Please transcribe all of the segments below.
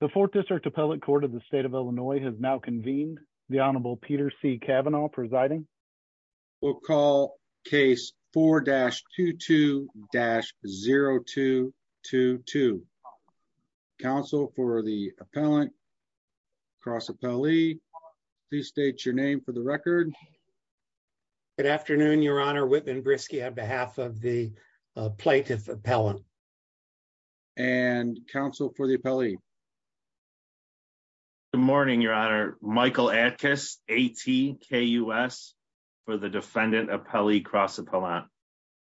the fourth district appellate court of the state of illinois has now convened the honorable peter c cavanaugh presiding we'll call case 4-22-0222 counsel for the appellant cross appellee please state your name for the record good afternoon your honor whitman briskey on behalf of the plaintiff appellant and counsel for the appellee good morning your honor michael atkiss atkus for the defendant appellee cross appellant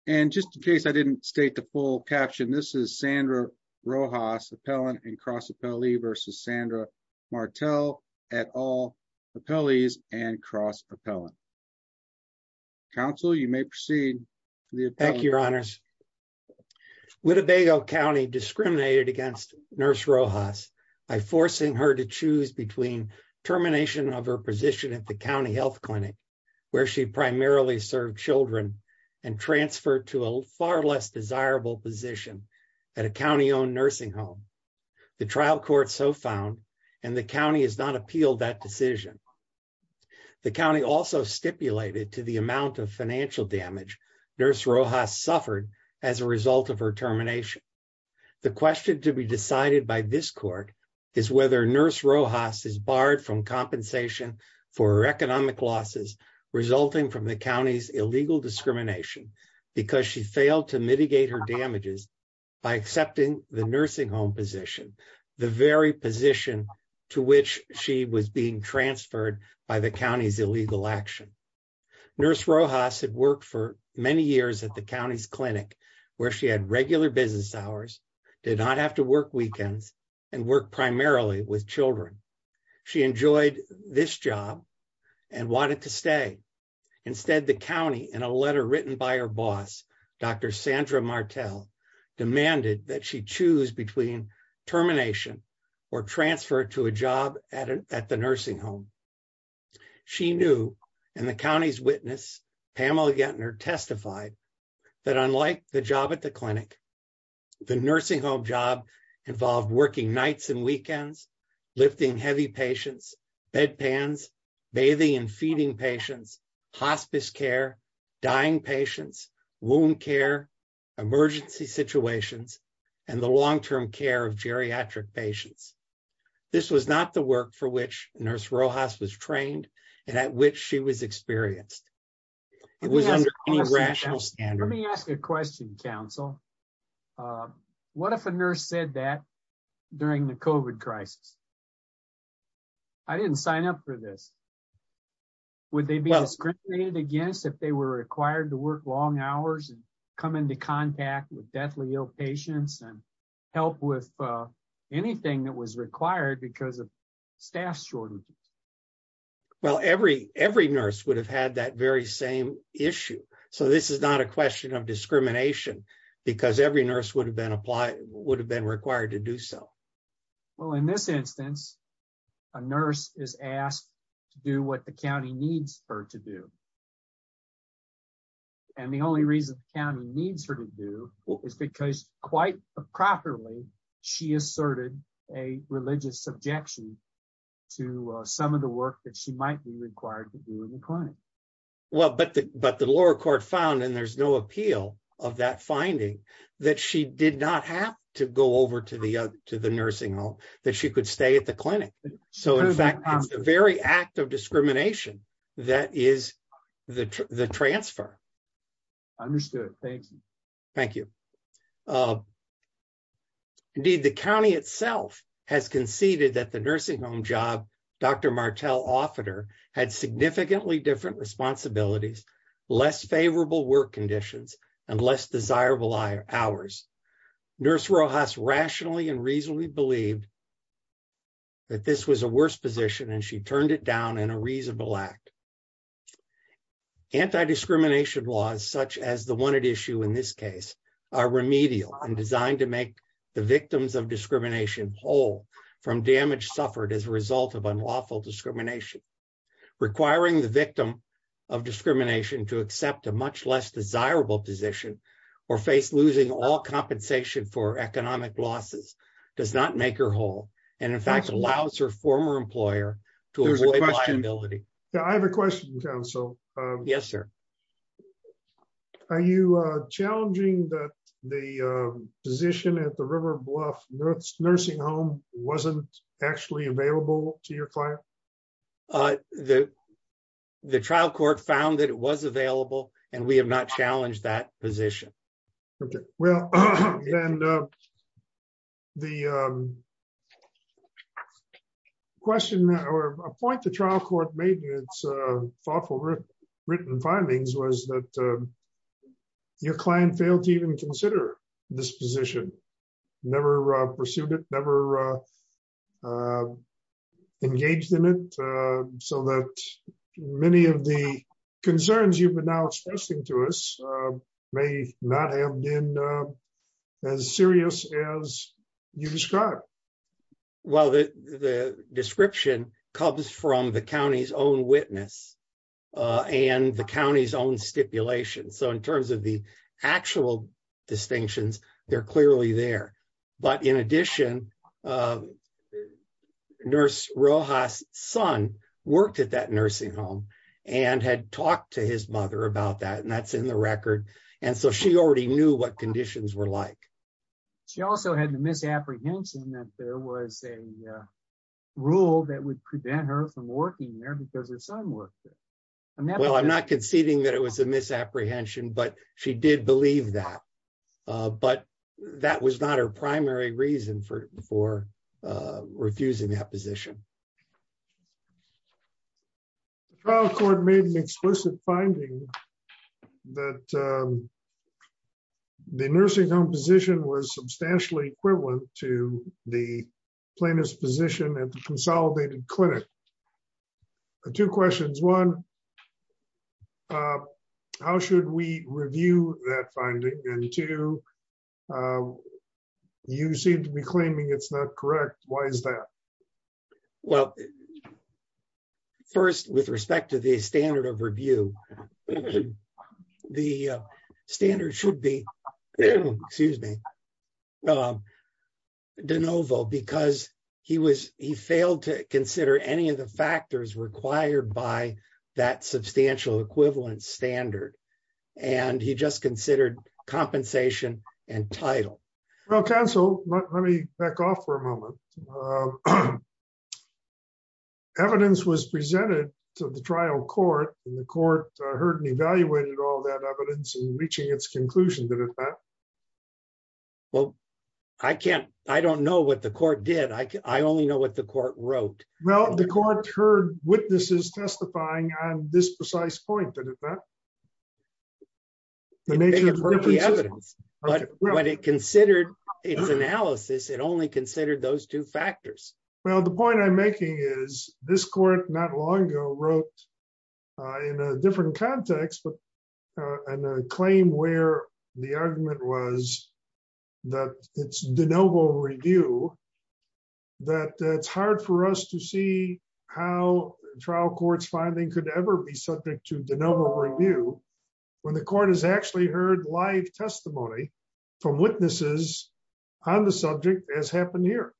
and just in case i didn't state the full caption this is sandra rojas appellant and cross appellee versus sandra martel at all appellees and cross appellant counsel you may proceed thank you your honors wittebago county discriminated against nurse rojas by forcing her to choose between termination of her position at the county health clinic where she primarily served children and transferred to a far less desirable position at a county-owned nursing home the trial court so found and the to the amount of financial damage nurse rojas suffered as a result of her termination the question to be decided by this court is whether nurse rojas is barred from compensation for her economic losses resulting from the county's illegal discrimination because she failed to mitigate her damages by accepting the nursing home position the very position to which she was being transferred by the county's illegal action nurse rojas had worked for many years at the county's clinic where she had regular business hours did not have to work weekends and work primarily with children she enjoyed this job and wanted to stay instead the county in a letter written by her boss dr sandra martel demanded that she choose between termination or transfer to a job at at the nursing home she knew and the county's witness pamela gettner testified that unlike the job at the clinic the nursing home job involved working nights and weekends lifting heavy patients bedpans bathing and feeding patients hospice care dying patients wound care emergency situations and the long-term care of geriatric patients this was not the work for which nurse rojas was trained and at which she was experienced it was under any rational standard let me ask a question counsel what if a nurse said that during the covid crisis i didn't sign up for this would they be discriminated against if they were required to work long hours and come into contact with deathly ill patients and help with anything that was required because of staff shortages well every every nurse would have had that very same issue so this is not a question of discrimination because every nurse would have been applied would have been required to do so well in this instance a nurse is asked to do what the county needs her to do and the only reason the county needs her to do is because quite properly she asserted a religious subjection to some of the work that she might be required to do in the clinic well but but the lower court found and there's no appeal of that finding that she did not have to go over to the to the nursing home that she could stay at the clinic so in fact it's the very act of discrimination that is the the transfer understood thank you thank you indeed the county itself has conceded that the nursing home job dr martell offerer had significantly different responsibilities less favorable work conditions and less desirable hours nurse rojas rationally and reasonably believed that this was a worse position and she turned it down in a reasonable act anti-discrimination laws such as the one at issue in this case are remedial and designed to make the victims of discrimination whole from damage suffered as a result of unlawful discrimination requiring the victim of discrimination to accept a much less desirable position or face losing all compensation for economic losses does not make her whole and in fact allows her former employer to avoid liability yeah i have a question council yes sir are you uh challenging that the uh position at the river bluff nurse nursing home wasn't actually available to your client uh the the trial court found that it was available and we have not challenged that position okay well and uh the um question or a point the trial court made in its uh thoughtful written findings was that your client failed to even consider this position never pursued it never uh engaged in it uh so that many of the concerns you've been now expressing to us may not have been as serious as you described well the the description comes from the county's own witness uh and the county's own stipulation so in terms of the actual distinctions they're in addition uh nurse rojas son worked at that nursing home and had talked to his mother about that and that's in the record and so she already knew what conditions were like she also had the misapprehension that there was a rule that would prevent her from working there because her son worked there well i'm not conceding that it was a misapprehension but she did believe that uh but that was not her primary reason for for uh refusing that position the trial court made an explicit finding that um the nursing home position was substantially equivalent to the plaintiff's position at the consolidated clinic two questions one uh how should we review that finding and two you seem to be claiming it's not correct why is that well first with respect to the standard of review the standard should be excuse me um de novo because he was he failed to consider any of the substantial equivalents standard and he just considered compensation and title well counsel let me back off for a moment evidence was presented to the trial court and the court heard and evaluated all that evidence and reaching its conclusion did it not well i can't i don't know what the court did i i only know what the court wrote well the court heard witnesses testifying on this precise point did it not the nature of the evidence but when it considered its analysis it only considered those two factors well the point i'm making is this court not long ago wrote uh in a different context but and a claim where the argument was that it's de novo review that it's hard for us to see how trial court's finding could ever be subject to de novo review when the court has actually heard live testimony from witnesses on the subject as happened here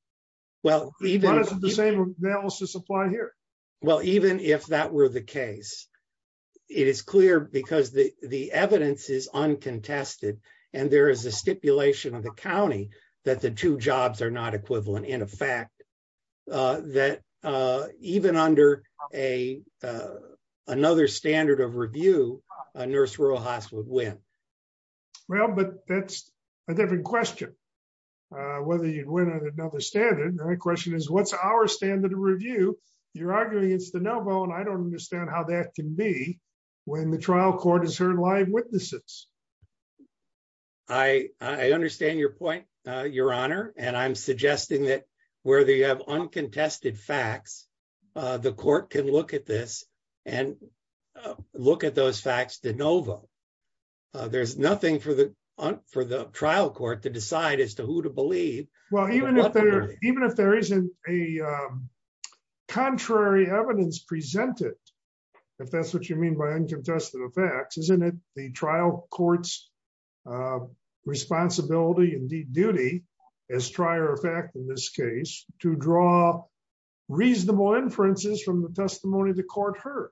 well even the same analysis applied here well even if that were the case it is clear because the the evidence is uncontested and there is a stipulation of the county that the two jobs are not equivalent in fact uh that uh even under a another standard of review a nurse rural hospital would win well but that's a different question uh whether you'd win another standard the question is what's our standard of review you're arguing it's de novo and i don't understand how that can be when the trial court has heard live witnesses i i understand your point uh your honor and i'm suggesting that whether you have uncontested facts uh the court can look at this and look at those facts de novo there's nothing for the for the trial court to decide as to who to believe well even if there even if there isn't a contrary evidence presented if that's what you mean by in this case to draw reasonable inferences from the testimony the court heard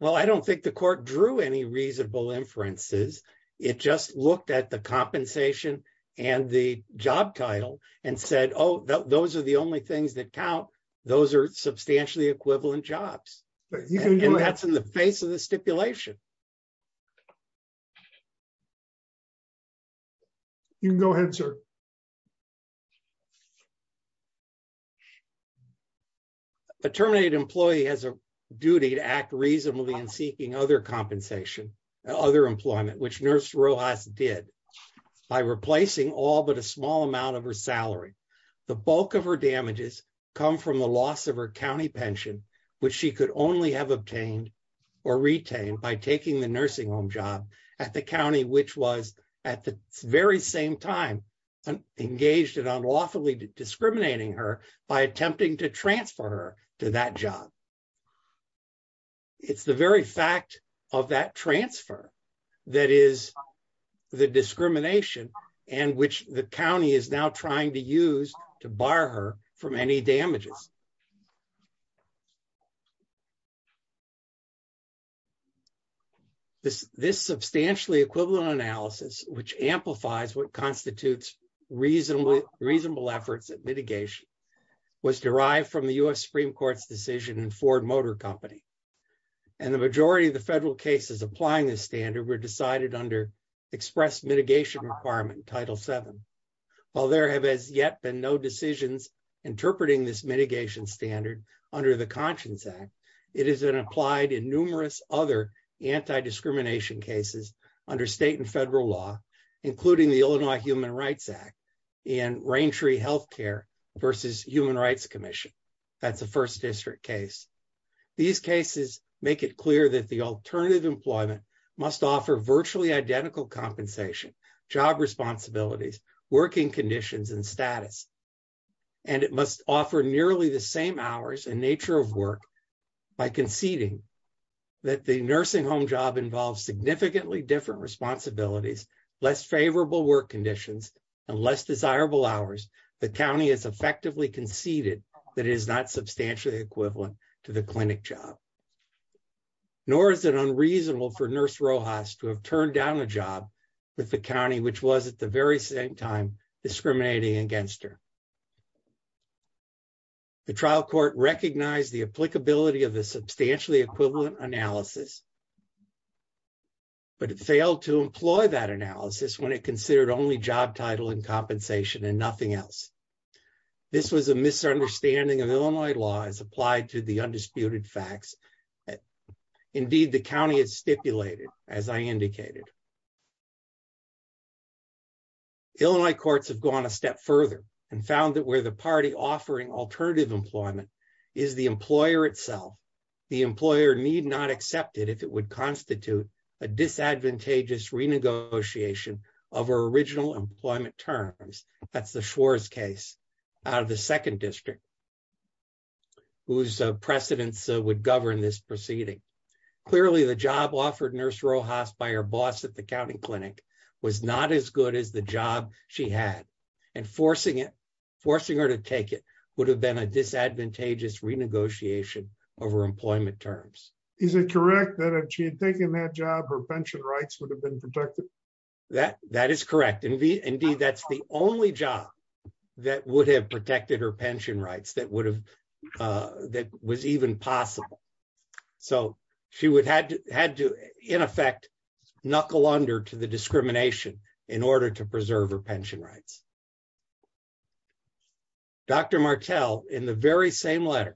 well i don't think the court drew any reasonable inferences it just looked at the compensation and the job title and said oh those are the only things that count those are substantially equivalent jobs and that's in the face of the stipulation you can go ahead sir a terminated employee has a duty to act reasonably in seeking other compensation other employment which nurse rojas did by replacing all but a small amount of her salary the bulk of her damages come from the loss of her county pension which she could only have obtained or retained by taking the nursing home job at the county which was at the very same time engaged in unlawfully discriminating her by attempting to transfer her to that job it's the very fact of that transfer that is the discrimination and which the county is now trying to use to bar her from any damages this this substantially equivalent analysis which amplifies what constitutes reasonable reasonable efforts at mitigation was derived from the u.s supreme court's decision in ford motor company and the majority of the federal cases applying this standard were decided under express mitigation requirement title 7 while there have as yet been no decisions interpreting this mitigation standard under the conscience act it has been applied in numerous other anti-discrimination cases under state and federal law including the illinois human rights act and rain tree health care versus human rights commission that's a first district case these cases make it clear that the alternative employment must offer virtually identical compensation job responsibilities working conditions and status and it must offer nearly the same hours and nature of work by conceding that the nursing home job involves significantly different responsibilities less favorable work conditions and less desirable hours the county has effectively conceded that it is not substantially equivalent to the clinic job nor is it unreasonable for nurse rojas to have turned down a job with the county which was at the very same time discriminating against her the trial court recognized the applicability of the substantially equivalent analysis but it failed to employ that analysis when it considered only job title and compensation and nothing else this was a misunderstanding of illinois law as applied to the undisputed facts that indeed the county has stipulated as i indicated illinois courts have gone a step further and found that where the party offering alternative employment is the employer itself the employer need not accept it if it would constitute a disadvantageous renegotiation of our original employment terms that's the schwarz case out of second district whose precedents would govern this proceeding clearly the job offered nurse rojas by her boss at the county clinic was not as good as the job she had and forcing it forcing her to take it would have been a disadvantageous renegotiation over employment terms is it correct that if she had taken that job her pension rights would have been protected that that is correct indeed that's the only job that would have protected her pension rights that would have that was even possible so she would had to had to in effect knuckle under to the discrimination in order to preserve her pension rights dr martell in the very same letter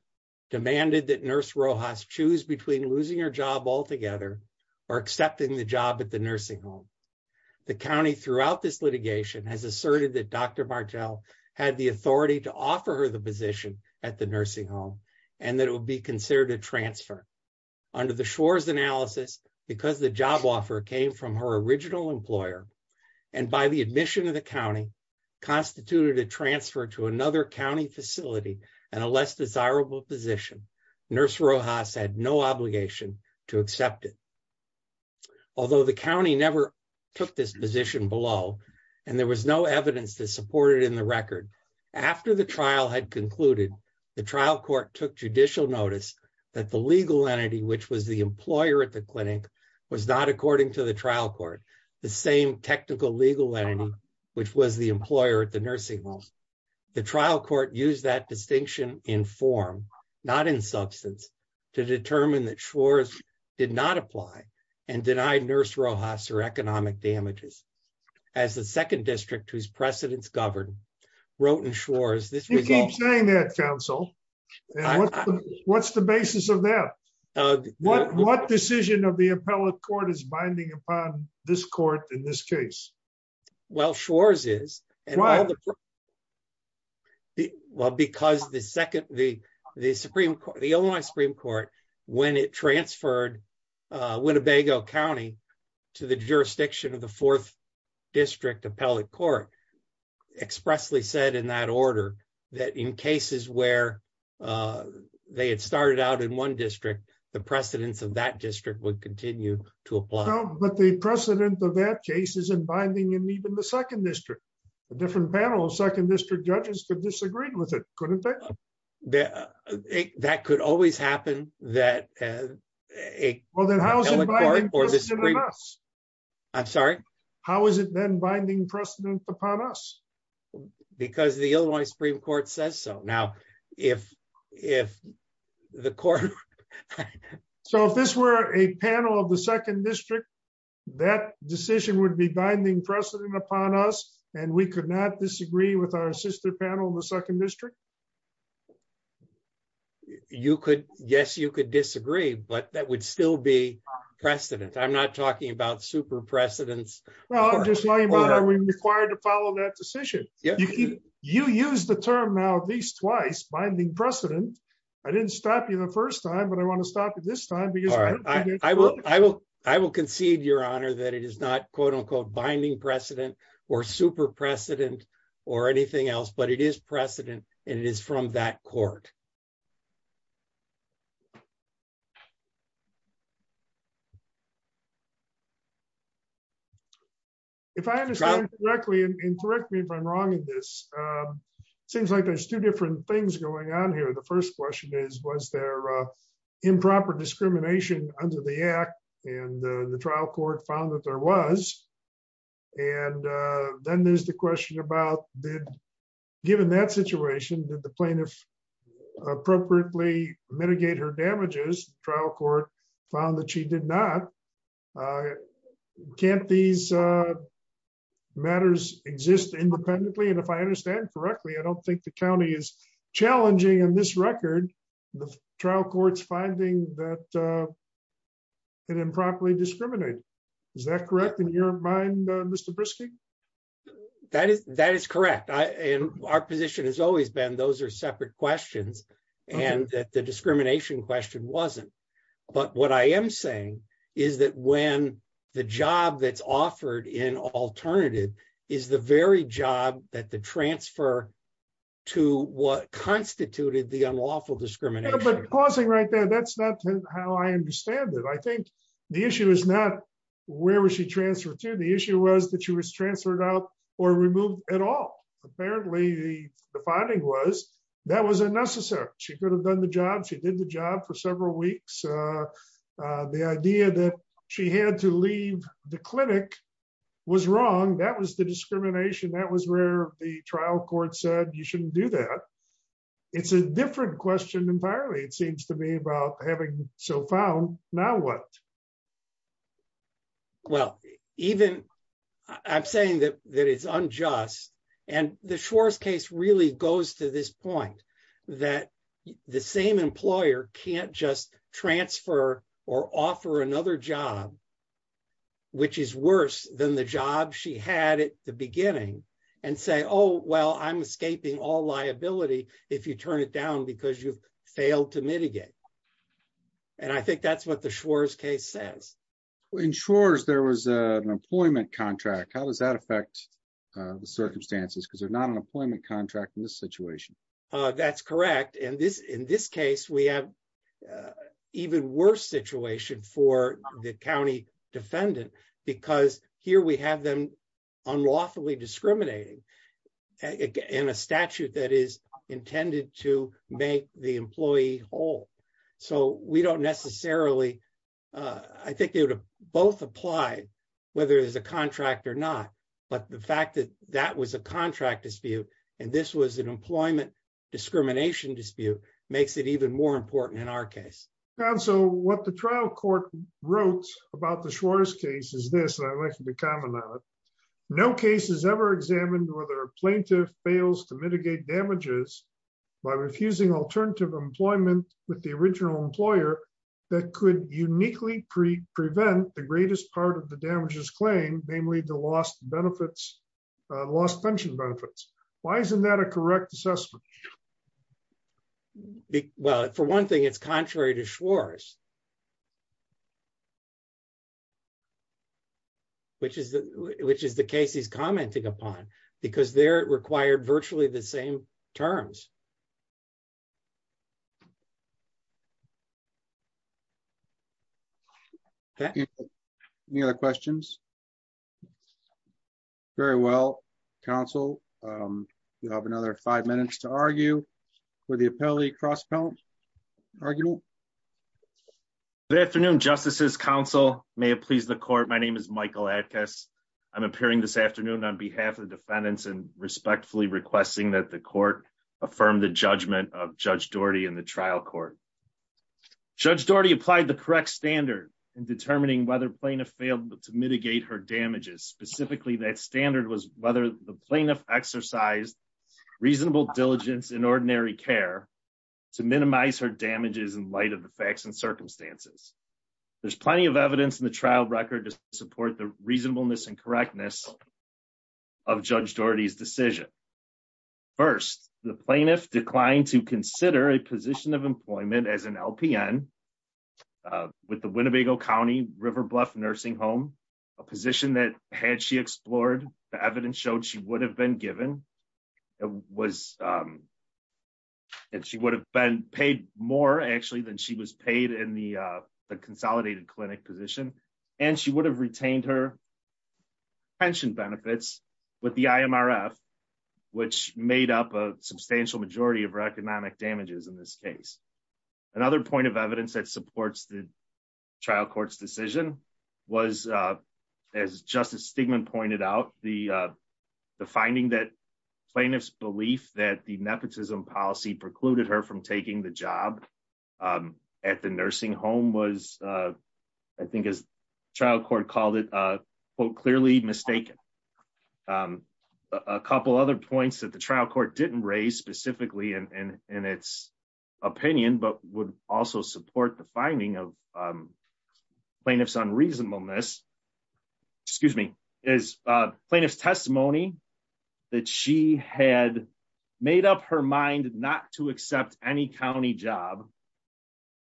demanded that nurse rojas choose between losing her job altogether or accepting the job at the nursing home the county throughout this litigation has asserted that dr martell had the authority to offer her the position at the nursing home and that it would be considered a transfer under the schwarz analysis because the job offer came from her original employer and by the admission of the county constituted a transfer to another although the county never took this position below and there was no evidence that supported in the record after the trial had concluded the trial court took judicial notice that the legal entity which was the employer at the clinic was not according to the trial court the same technical legal entity which was the employer at the nursing home the trial court used that distinction in form not in substance to determine that schwarz did not apply and denied nurse rojas her economic damages as the second district whose precedents governed wrote in schwarz this you keep saying that counsel what's the basis of that what what decision of the appellate court is binding upon this court in this case well schwarz is and why well because the second the the supreme court the only supreme court when it transferred uh winnebago county to the jurisdiction of the fourth district appellate court expressly said in that order that in cases where uh they had started out in one district the precedents of that district would continue to apply but the precedent of that case is in binding and even the second district a different panel of second district judges could disagree with it couldn't that that could always happen that uh well then how is it i'm sorry how is it then binding precedent upon us because the illinois supreme court says so now if if the court so if this were a panel of the second district that decision would be binding precedent upon us and we could not disagree with our sister panel in the second district you could yes you could disagree but that would still be precedent i'm not talking about super well i'm just lying about are we required to follow that decision yeah you use the term now at least twice binding precedent i didn't stop you the first time but i want to stop it this time because i will i will i will concede your honor that it is not quote unquote binding precedent or super precedent or anything else but it is precedent and it is from that court if i understand correctly and correct me if i'm wrong in this seems like there's two different things going on here the first question is was there improper discrimination under the act and the trial court found that there was and then there's the question about did given that situation did the plaintiff appropriately mitigate her damages trial court found that she did not uh can't these uh matters exist independently and if i understand correctly i don't think the county is challenging in this record the trial court's finding that uh it improperly discriminated is that correct in your mind mr briskey that is that is correct i and our position has always been those are separate questions and that the discrimination question wasn't but what i am saying is that when the job that's offered in alternative is the very job that the transfer to what constituted the unlawful discrimination but pausing right there that's not how i understand it i think the issue is not where was she transferred to the issue was that she was transferred out or removed at all apparently the the finding was that was unnecessary she could have done the job she did the job for several weeks uh uh the idea that she had to leave the clinic was wrong that was the discrimination that was where the trial court said you shouldn't do that it's a different question entirely it seems to me about having so found now what well even i'm saying that that it's unjust and the schwarz case really goes to this point that the same employer can't just transfer or offer another job which is worse than the job she had at the beginning and say oh well i'm escaping all liability if you turn it down because you've failed to mitigate and i think that's what the schwarz case says in shores there was an employment contract how does that affect the circumstances because they're not an employment contract in this situation uh that's correct and this in this case we have even worse situation for the county defendant because here we have them unlawfully discriminating in a statute that is intended to make the employee whole so we don't necessarily uh i think they would have both applied whether there's a contract or not but the fact that that was a contract dispute and this was an employment discrimination dispute makes it even more important in our case and so what the trial court wrote about the shortest case is this and i'd like to comment on it no case has ever examined whether a plaintiff fails to mitigate damages by refusing alternative employment with the original employer that could uniquely prevent the greatest part of the why isn't that a correct assessment well for one thing it's contrary to schwarz which is the which is the case he's commenting upon because they're required virtually the same terms um thank you any other questions very well counsel um you have another five minutes to argue for the appellee cross count arguable good afternoon justices council may it please the court my name is michael adkiss i'm appearing this afternoon on behalf of defendants and respectfully requesting that the court affirm the judgment of judge doherty in the trial court judge doherty applied the correct standard in determining whether plaintiff failed to mitigate her damages specifically that standard was whether the plaintiff exercised reasonable diligence in ordinary care to minimize her damages in light of the facts and circumstances there's plenty of evidence in the trial record to support the reasonableness and correctness of judge doherty's decision first the plaintiff declined to consider a position of employment as an lpn with the winnebago county river bluff nursing home a position that had she explored the evidence showed she would have been given it was um and she would have been paid more actually than she was paid in the uh the consolidated clinic position and she would have retained her pension benefits with the imrf which made up a substantial majority of her economic damages in this case another point of evidence that supports the trial court's decision was uh as justice stigman pointed out the uh the finding that plaintiff's belief that the nepotism policy precluded her from taking the job um at the nursing home was uh i think as trial court called it a quote clearly mistaken um a couple other points that the trial court didn't raise specifically in its opinion but would also support the finding of um plaintiff's unreasonableness excuse me is uh plaintiff's testimony that she had made up her mind not to accept any county job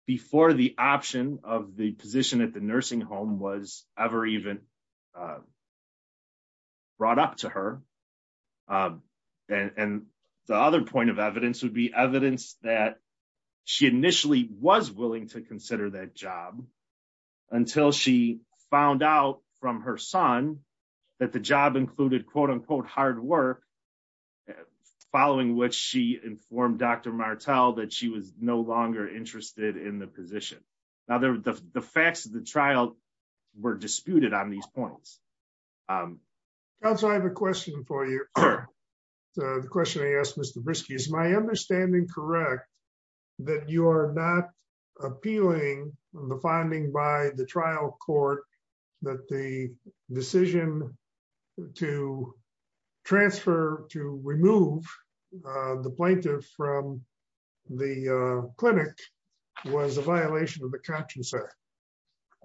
before the option of the position at the nursing home was ever even uh brought up to her um and and the other point of evidence would be evidence that she initially was willing to consider that job until she found out from her son that the job included quote unquote hard work following which she informed dr martell that she was no longer interested in the position now the the facts of the trial were disputed on these points um also i have a question for you the question i asked mr briskey is my understanding correct that you are not appealing the finding by the trial court that the decision to transfer to remove uh the plaintiff from the uh clinic was a violation of the conscience act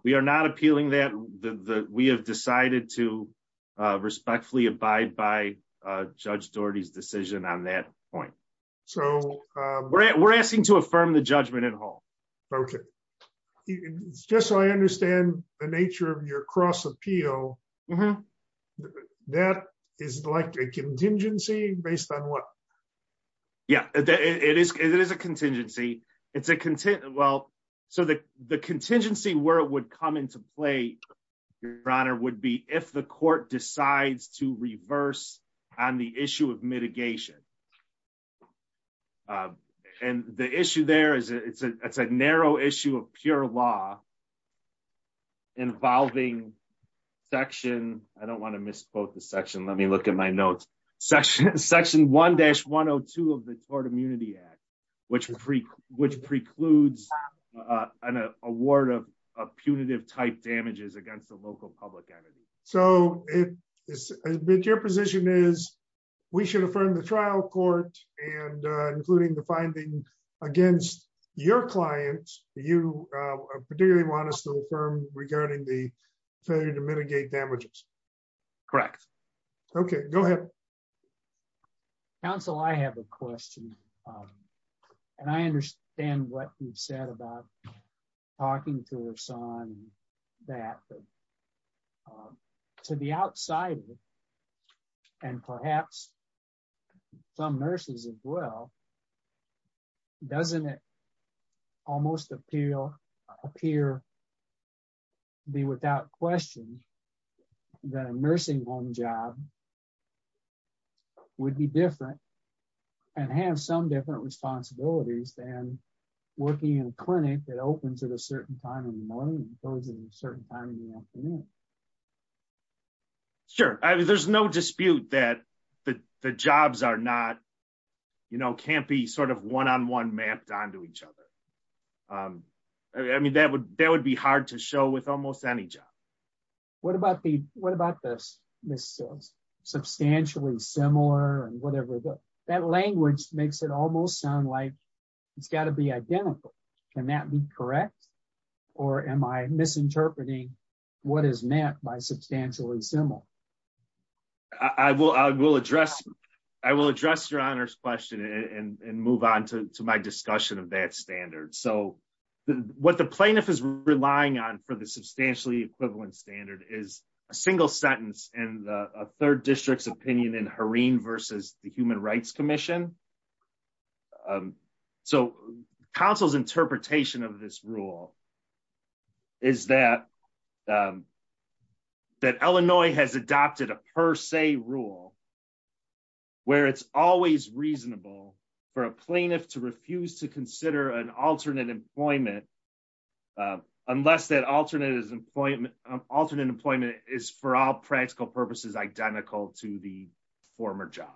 we are not appealing that the the we have decided to uh respectfully abide by uh judge doherty's decision on that point so uh we're asking to affirm the judgment at all okay it's just so i understand the nature of your cross appeal that is like a contingency based on what yeah it is it is a contingency it's a content well so the the contingency where it would come into play your honor would be if the court decides to law involving section i don't want to misquote the section let me look at my notes section section 1-102 of the tort immunity act which was free which precludes uh an award of punitive type damages against the local public entity so it is admit your position is we should affirm the particularly want to still affirm regarding the failure to mitigate damages correct okay go ahead counsel i have a question um and i understand what you've said about talking to us on that um to the outsider and perhaps some nurses as well doesn't it almost appeal appear be without question that a nursing home job would be different and have some different responsibilities than working in a clinic that opens at a certain time in the morning closes at a certain time in the afternoon sure i mean there's no dispute that the the jobs are not you know can't be sort of one-on-one mapped onto each other um i mean that would that would be hard to show with almost any job what about the what about this this is substantially similar and whatever but that language makes it almost sound like it's got to be identical can that be correct or am i misinterpreting what is meant by substantially similar i will i will address i will address your honor's question and and move on to my discussion of that standard so what the plaintiff is relying on for the substantially equivalent standard is a single sentence and a third district's opinion in harine versus the human rights commission um so council's interpretation of this rule is that um that illinois has adopted a per se rule where it's always reasonable for a plaintiff to refuse to consider an alternate employment unless that alternate is employment alternate employment is for all practical purposes identical to the former job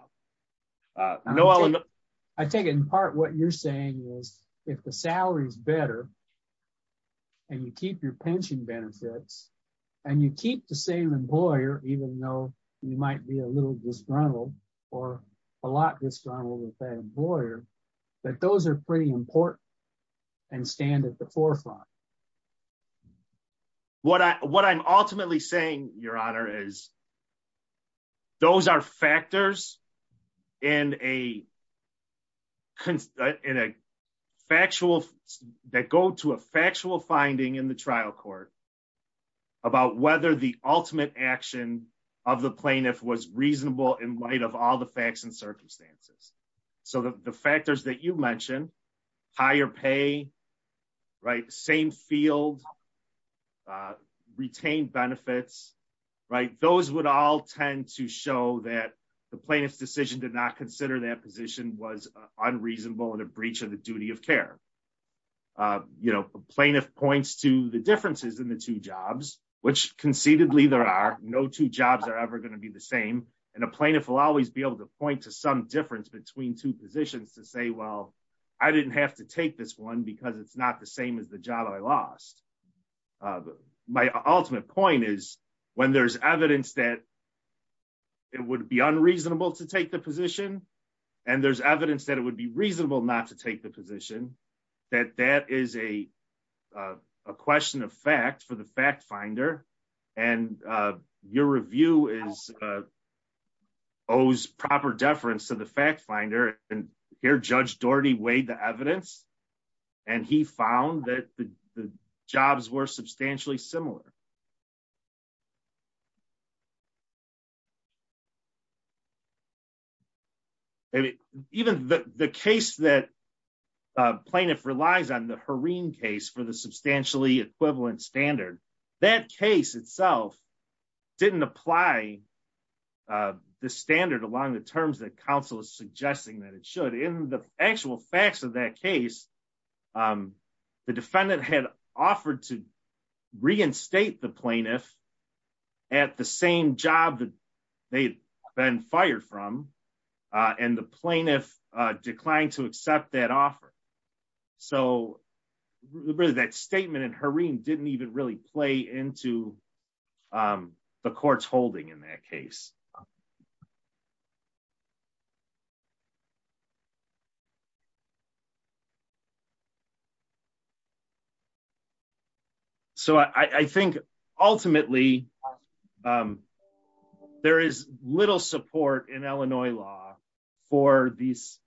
uh no i think in part what you're saying is if the salary is better and you keep your pension benefits and you keep the same employer even though you might be a little disgruntled or a lot disgruntled with that employer that those are pretty important and stand at the forefront what i what i'm ultimately saying your honor is those are factors in a in a factual that go to a factual finding in the trial court about whether the ultimate action of the plaintiff was reasonable in light of all the facts and circumstances so the factors that you mentioned higher pay right same field retained benefits right those would all tend to show that the plaintiff's decision did not consider that position was unreasonable and a breach of the duty of care uh you know plaintiff points to the differences in the two jobs which conceitedly there are no two jobs are ever going to be the same and a plaintiff will always be able to point to some difference between two positions to say well i didn't have to take this one because it's not the same as the job i lost my ultimate point is when there's evidence that it would be unreasonable to take the position and there's evidence that it would be reasonable not to take the position that that is a a question of fact for the fact finder and uh your review is uh owes proper deference to the fact finder and here judge doherty weighed the evidence and he found that the jobs were substantially similar um maybe even the the case that uh plaintiff relies on the harine case for the substantially equivalent standard that case itself didn't apply uh the standard along the terms that council is suggesting that it should in the actual facts of that case um the defendant had offered to reinstate the plaintiff at the same job that they'd been fired from uh and the plaintiff uh declined to accept that offer so really that statement and harine didn't even really play into um the court's holding in that case um so i i think ultimately um there is little support in illinois law for these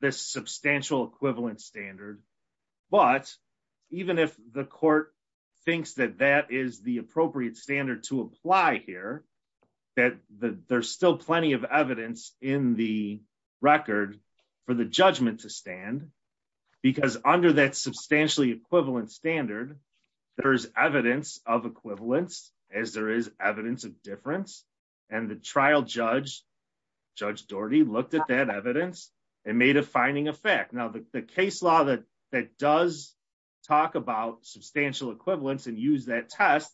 this substantial equivalent standard but even if the court thinks that that is the appropriate standard to apply here that the there's still plenty of evidence in the record for the judgment to stand because under that substantially equivalent standard there is evidence of equivalence as there is evidence of difference and the trial judge judge doherty looked at that evidence and made a finding effect now the case law that that does talk about substantial equivalence and use that test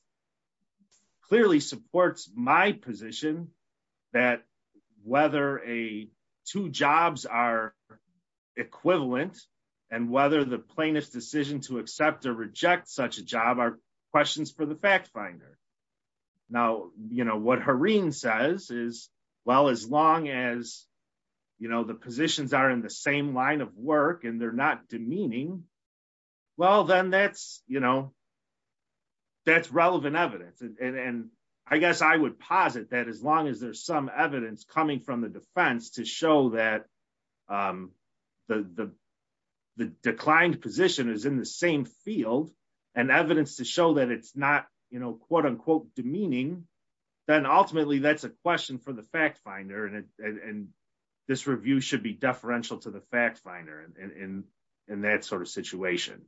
clearly supports my position that whether a two jobs are equivalent and whether the plaintiff's decision to accept or reject such a job are questions for the fact finder now you know what harine says is well as long as you know the positions are in the same line of work and they're not demeaning well then that's you know that's relevant evidence and i guess i would posit that as long as there's some evidence coming from the defense to show that um the the the declined position is in the same field and evidence to show that it's not you know quote unquote demeaning then ultimately that's a question for the fact finder and and this review should be referential to the fact finder in in that sort of situation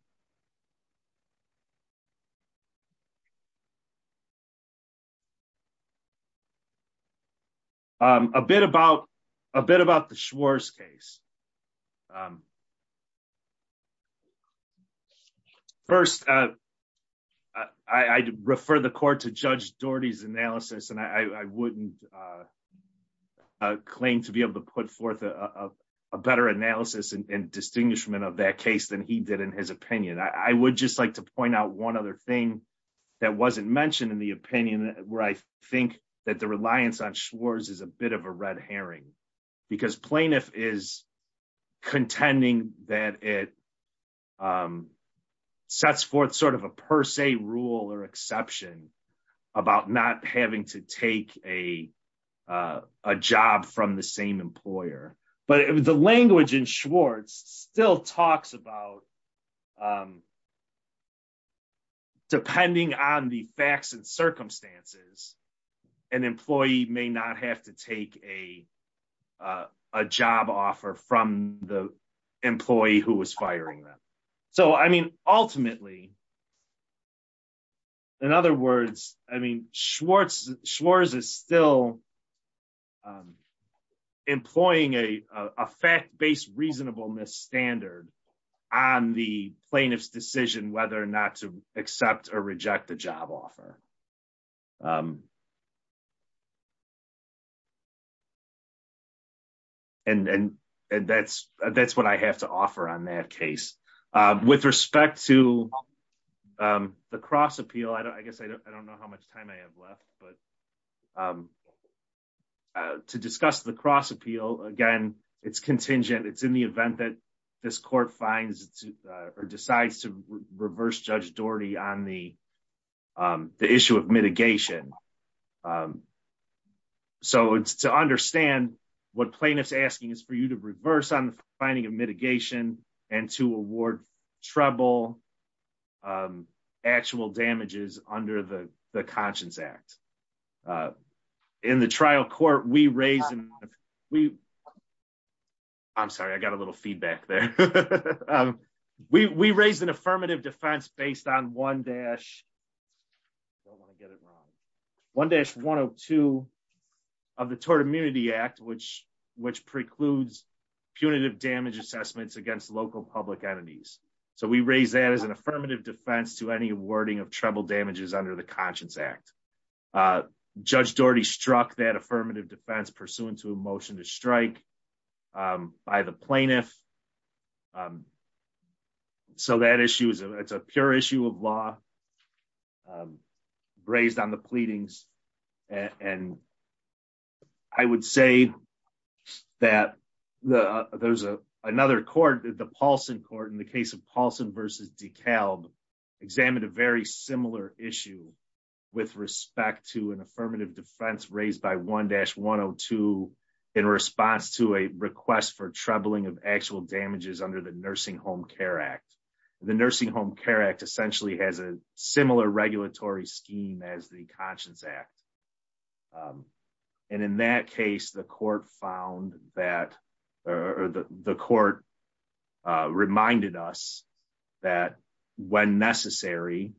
um a bit about a bit about the schwarz case um first uh i i refer the court to judge doherty's analysis and i i wouldn't uh claim to be able to put forth a a better analysis and distinguishment of that case than he did in his opinion i would just like to point out one other thing that wasn't mentioned in the opinion where i think that the reliance on schwarz is a bit of a red herring because plaintiff is contending that it um sets forth sort of a per se rule or exception about not having to take a uh a job from the same employer but the language in schwarz still talks about depending on the facts and circumstances an employee may not have to take a a job offer from the employee who was firing them so i mean ultimately in other words i mean schwarz schwarz is still employing a a fact-based reasonableness standard on the plaintiff's decision whether or not to accept or reject the job offer and and that's that's what i have to offer on that case um with respect to um the cross appeal i don't i guess i don't know how much time i have left but um to discuss the cross appeal again it's contingent it's in the event that this court finds or decides to reverse judge doherty on the um the issue of mitigation um so it's to understand what plaintiff's asking is for you to reverse on the finding of mitigation and to award trouble um actual damages under the the conscience act uh in the trial court we raised we i'm sorry i got a little feedback there um we we raised an affirmative defense based on one dash i don't want to get it wrong 1-102 of the tort immunity act which which precludes punitive damage assessments against local public entities so we raise that as an affirmative defense to any awarding of treble damages under the conscience act uh judge doherty struck that affirmative defense pursuant to a motion to strike um by the plaintiff um so that issue is a it's a pure issue of law um raised on the pleadings and i would say that the there's a another court the paulson court in the case of paulson versus decalb examined a very similar issue with respect to an affirmative defense raised by 1-102 in response to a request for troubling of actual damages under the nursing home care act the nursing home care act essentially has a similar regulatory scheme as the conscience act and in that case the court found that or the the court uh reminded us that when necessary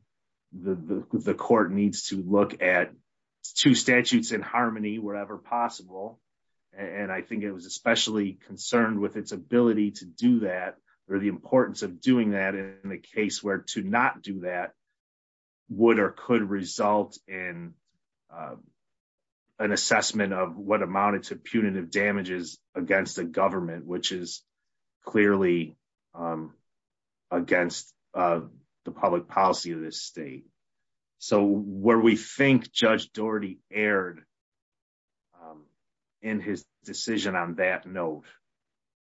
the the court needs to look at two statutes in harmony wherever possible and i think it was especially concerned with its ability to do that or the importance of doing that in a case where to not do that would or could result in an assessment of what amounted to punitive damages against the government which is clearly um against uh the public policy of this state so where we think judge doherty erred um in his decision on that note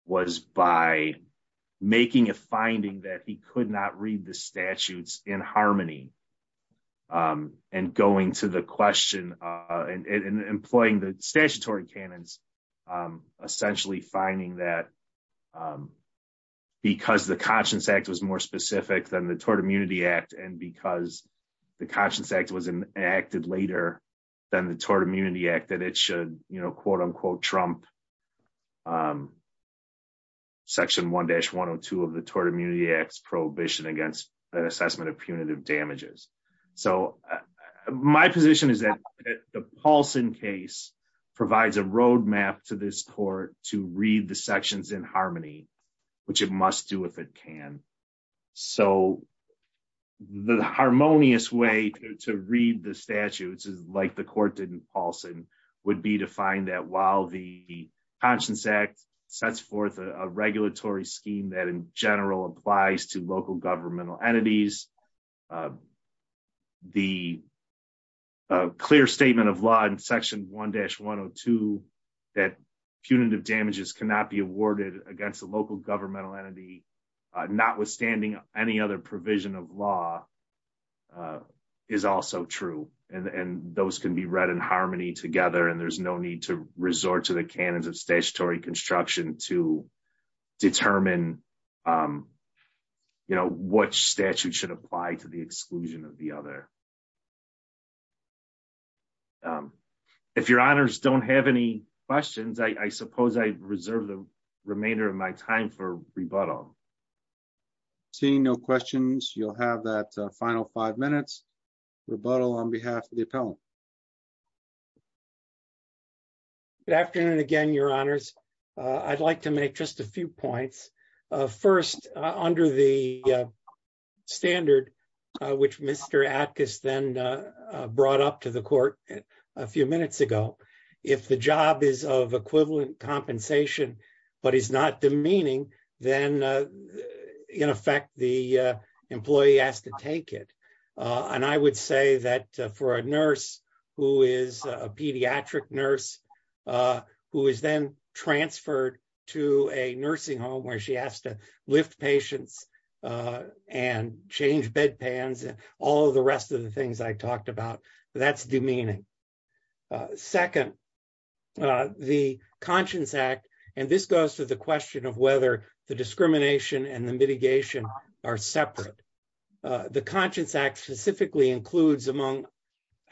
was by making a finding that he could not read the statutes in harmony um and going to the question and employing the statutory canons um essentially finding that because the conscience act was more specific than the tort immunity act and because the conscience act was enacted later than the tort immunity act that it should you know quote unquote trump um section 1-102 of the tort immunity acts prohibition against an assessment punitive damages so my position is that the paulson case provides a road map to this court to read the sections in harmony which it must do if it can so the harmonious way to read the statutes is like the court didn't paulson would be to find that while the conscience act sets forth a regulatory scheme that in general applies to local governmental entities the clear statement of law in section 1-102 that punitive damages cannot be awarded against the local governmental entity notwithstanding any other provision of law is also true and those can be read in harmony together and there's no need to resort to the canons of statutory construction to determine um you know what statute should apply to the exclusion of the other um if your honors don't have any questions i suppose i reserve the remainder of my time for rebuttal seeing no questions you'll have that final five minutes rebuttal on behalf of the uh i'd like to make just a few points uh first under the standard which mr atkiss then brought up to the court a few minutes ago if the job is of equivalent compensation but is not demeaning then in effect the employee has to take it and i would say that for a nurse who is a pediatric nurse uh who is then transferred to a nursing home where she has to lift patients uh and change bedpans and all the rest of the things i talked about that's demeaning second uh the conscience act and this goes to the question of whether the discrimination and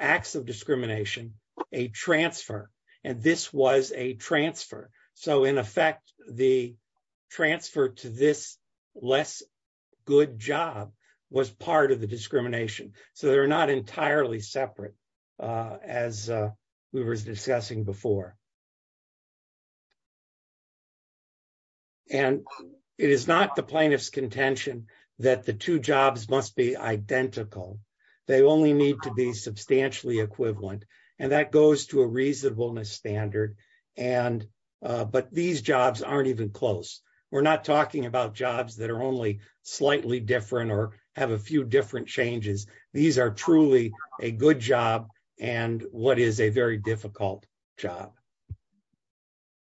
acts of discrimination a transfer and this was a transfer so in effect the transfer to this less good job was part of the discrimination so they're not entirely separate uh as we were discussing before and it is not the plaintiff's contention that the two jobs must be identical they only need to be substantially equivalent and that goes to a reasonableness standard and uh but these jobs aren't even close we're not talking about jobs that are only slightly different or have a few different changes these are truly a good job and what is a very difficult job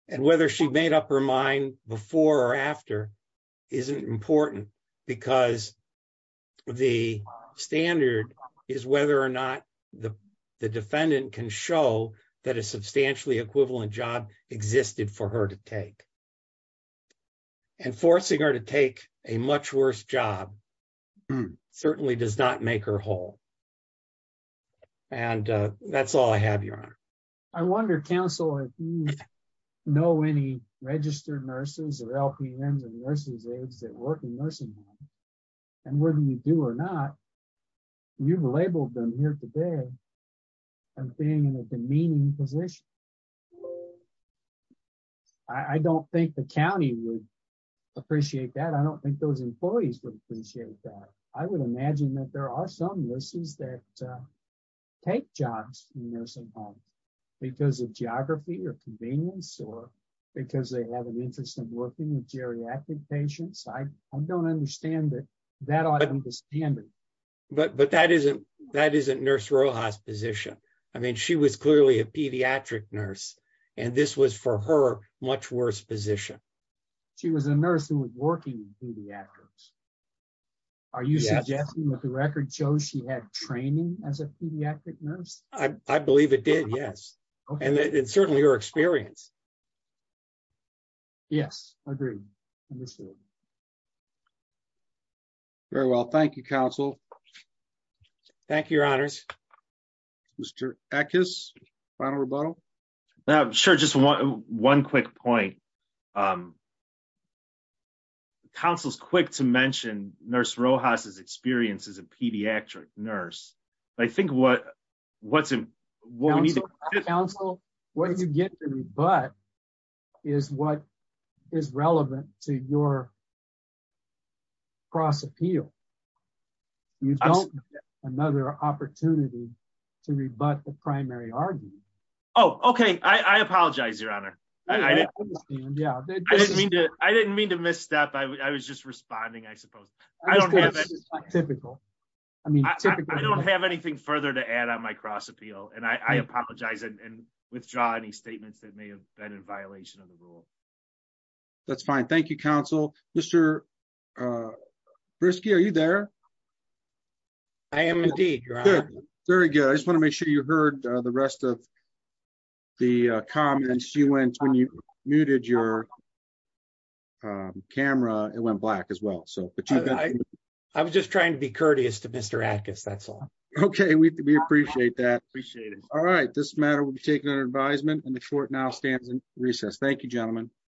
and whether she made up her mind before or after isn't important because the standard is whether or not the the defendant can show that a substantially equivalent job existed for her to take and forcing her to take a much worse job certainly does not make her whole and uh that's all i have your honor i wonder counsel if you know any registered nurses or lpms and nurses aides that work in nursing home and whether you do or not you've labeled them here today and being in a demeaning position i don't think the county would appreciate that i don't think those employees would appreciate that i would imagine that there are some nurses that take jobs in nursing homes because of geography or convenience or because they have an interest in working with geriatric patients i i don't understand that that ought to be standard but but that isn't that isn't nurse rojas position i mean she was clearly a pediatric nurse and this was for her much worse position she was a nurse who was working in pediatrics are you suggesting that the record shows she had training as a pediatric nurse i i believe it did yes and it's certainly your experience yes i agree understood very well thank you counsel thank you your honors mr ackes final rebuttal now sure just one one quick point um counsel's quick to mention nurse rojas's experience as a pediatric nurse i think what what's what we need to counsel what you get to me but is what is relevant to your cross appeal you don't another opportunity to rebut the primary argument oh okay i i apologize your honor i didn't understand yeah i didn't mean to i didn't mean to misstep i was just responding i suppose i don't have anything typical i mean i don't have anything further to add on my cross appeal and i i apologize and withdraw any statements that may have been in violation of the uh brisky are you there i am indeed your honor very good i just want to make sure you heard the rest of the uh comments you went when you muted your um camera it went black as well so but i i was just trying to be courteous to mr atkins that's all okay we appreciate that appreciate it all right this matter will be taken under advisement and the court now stands in recess thank you gentlemen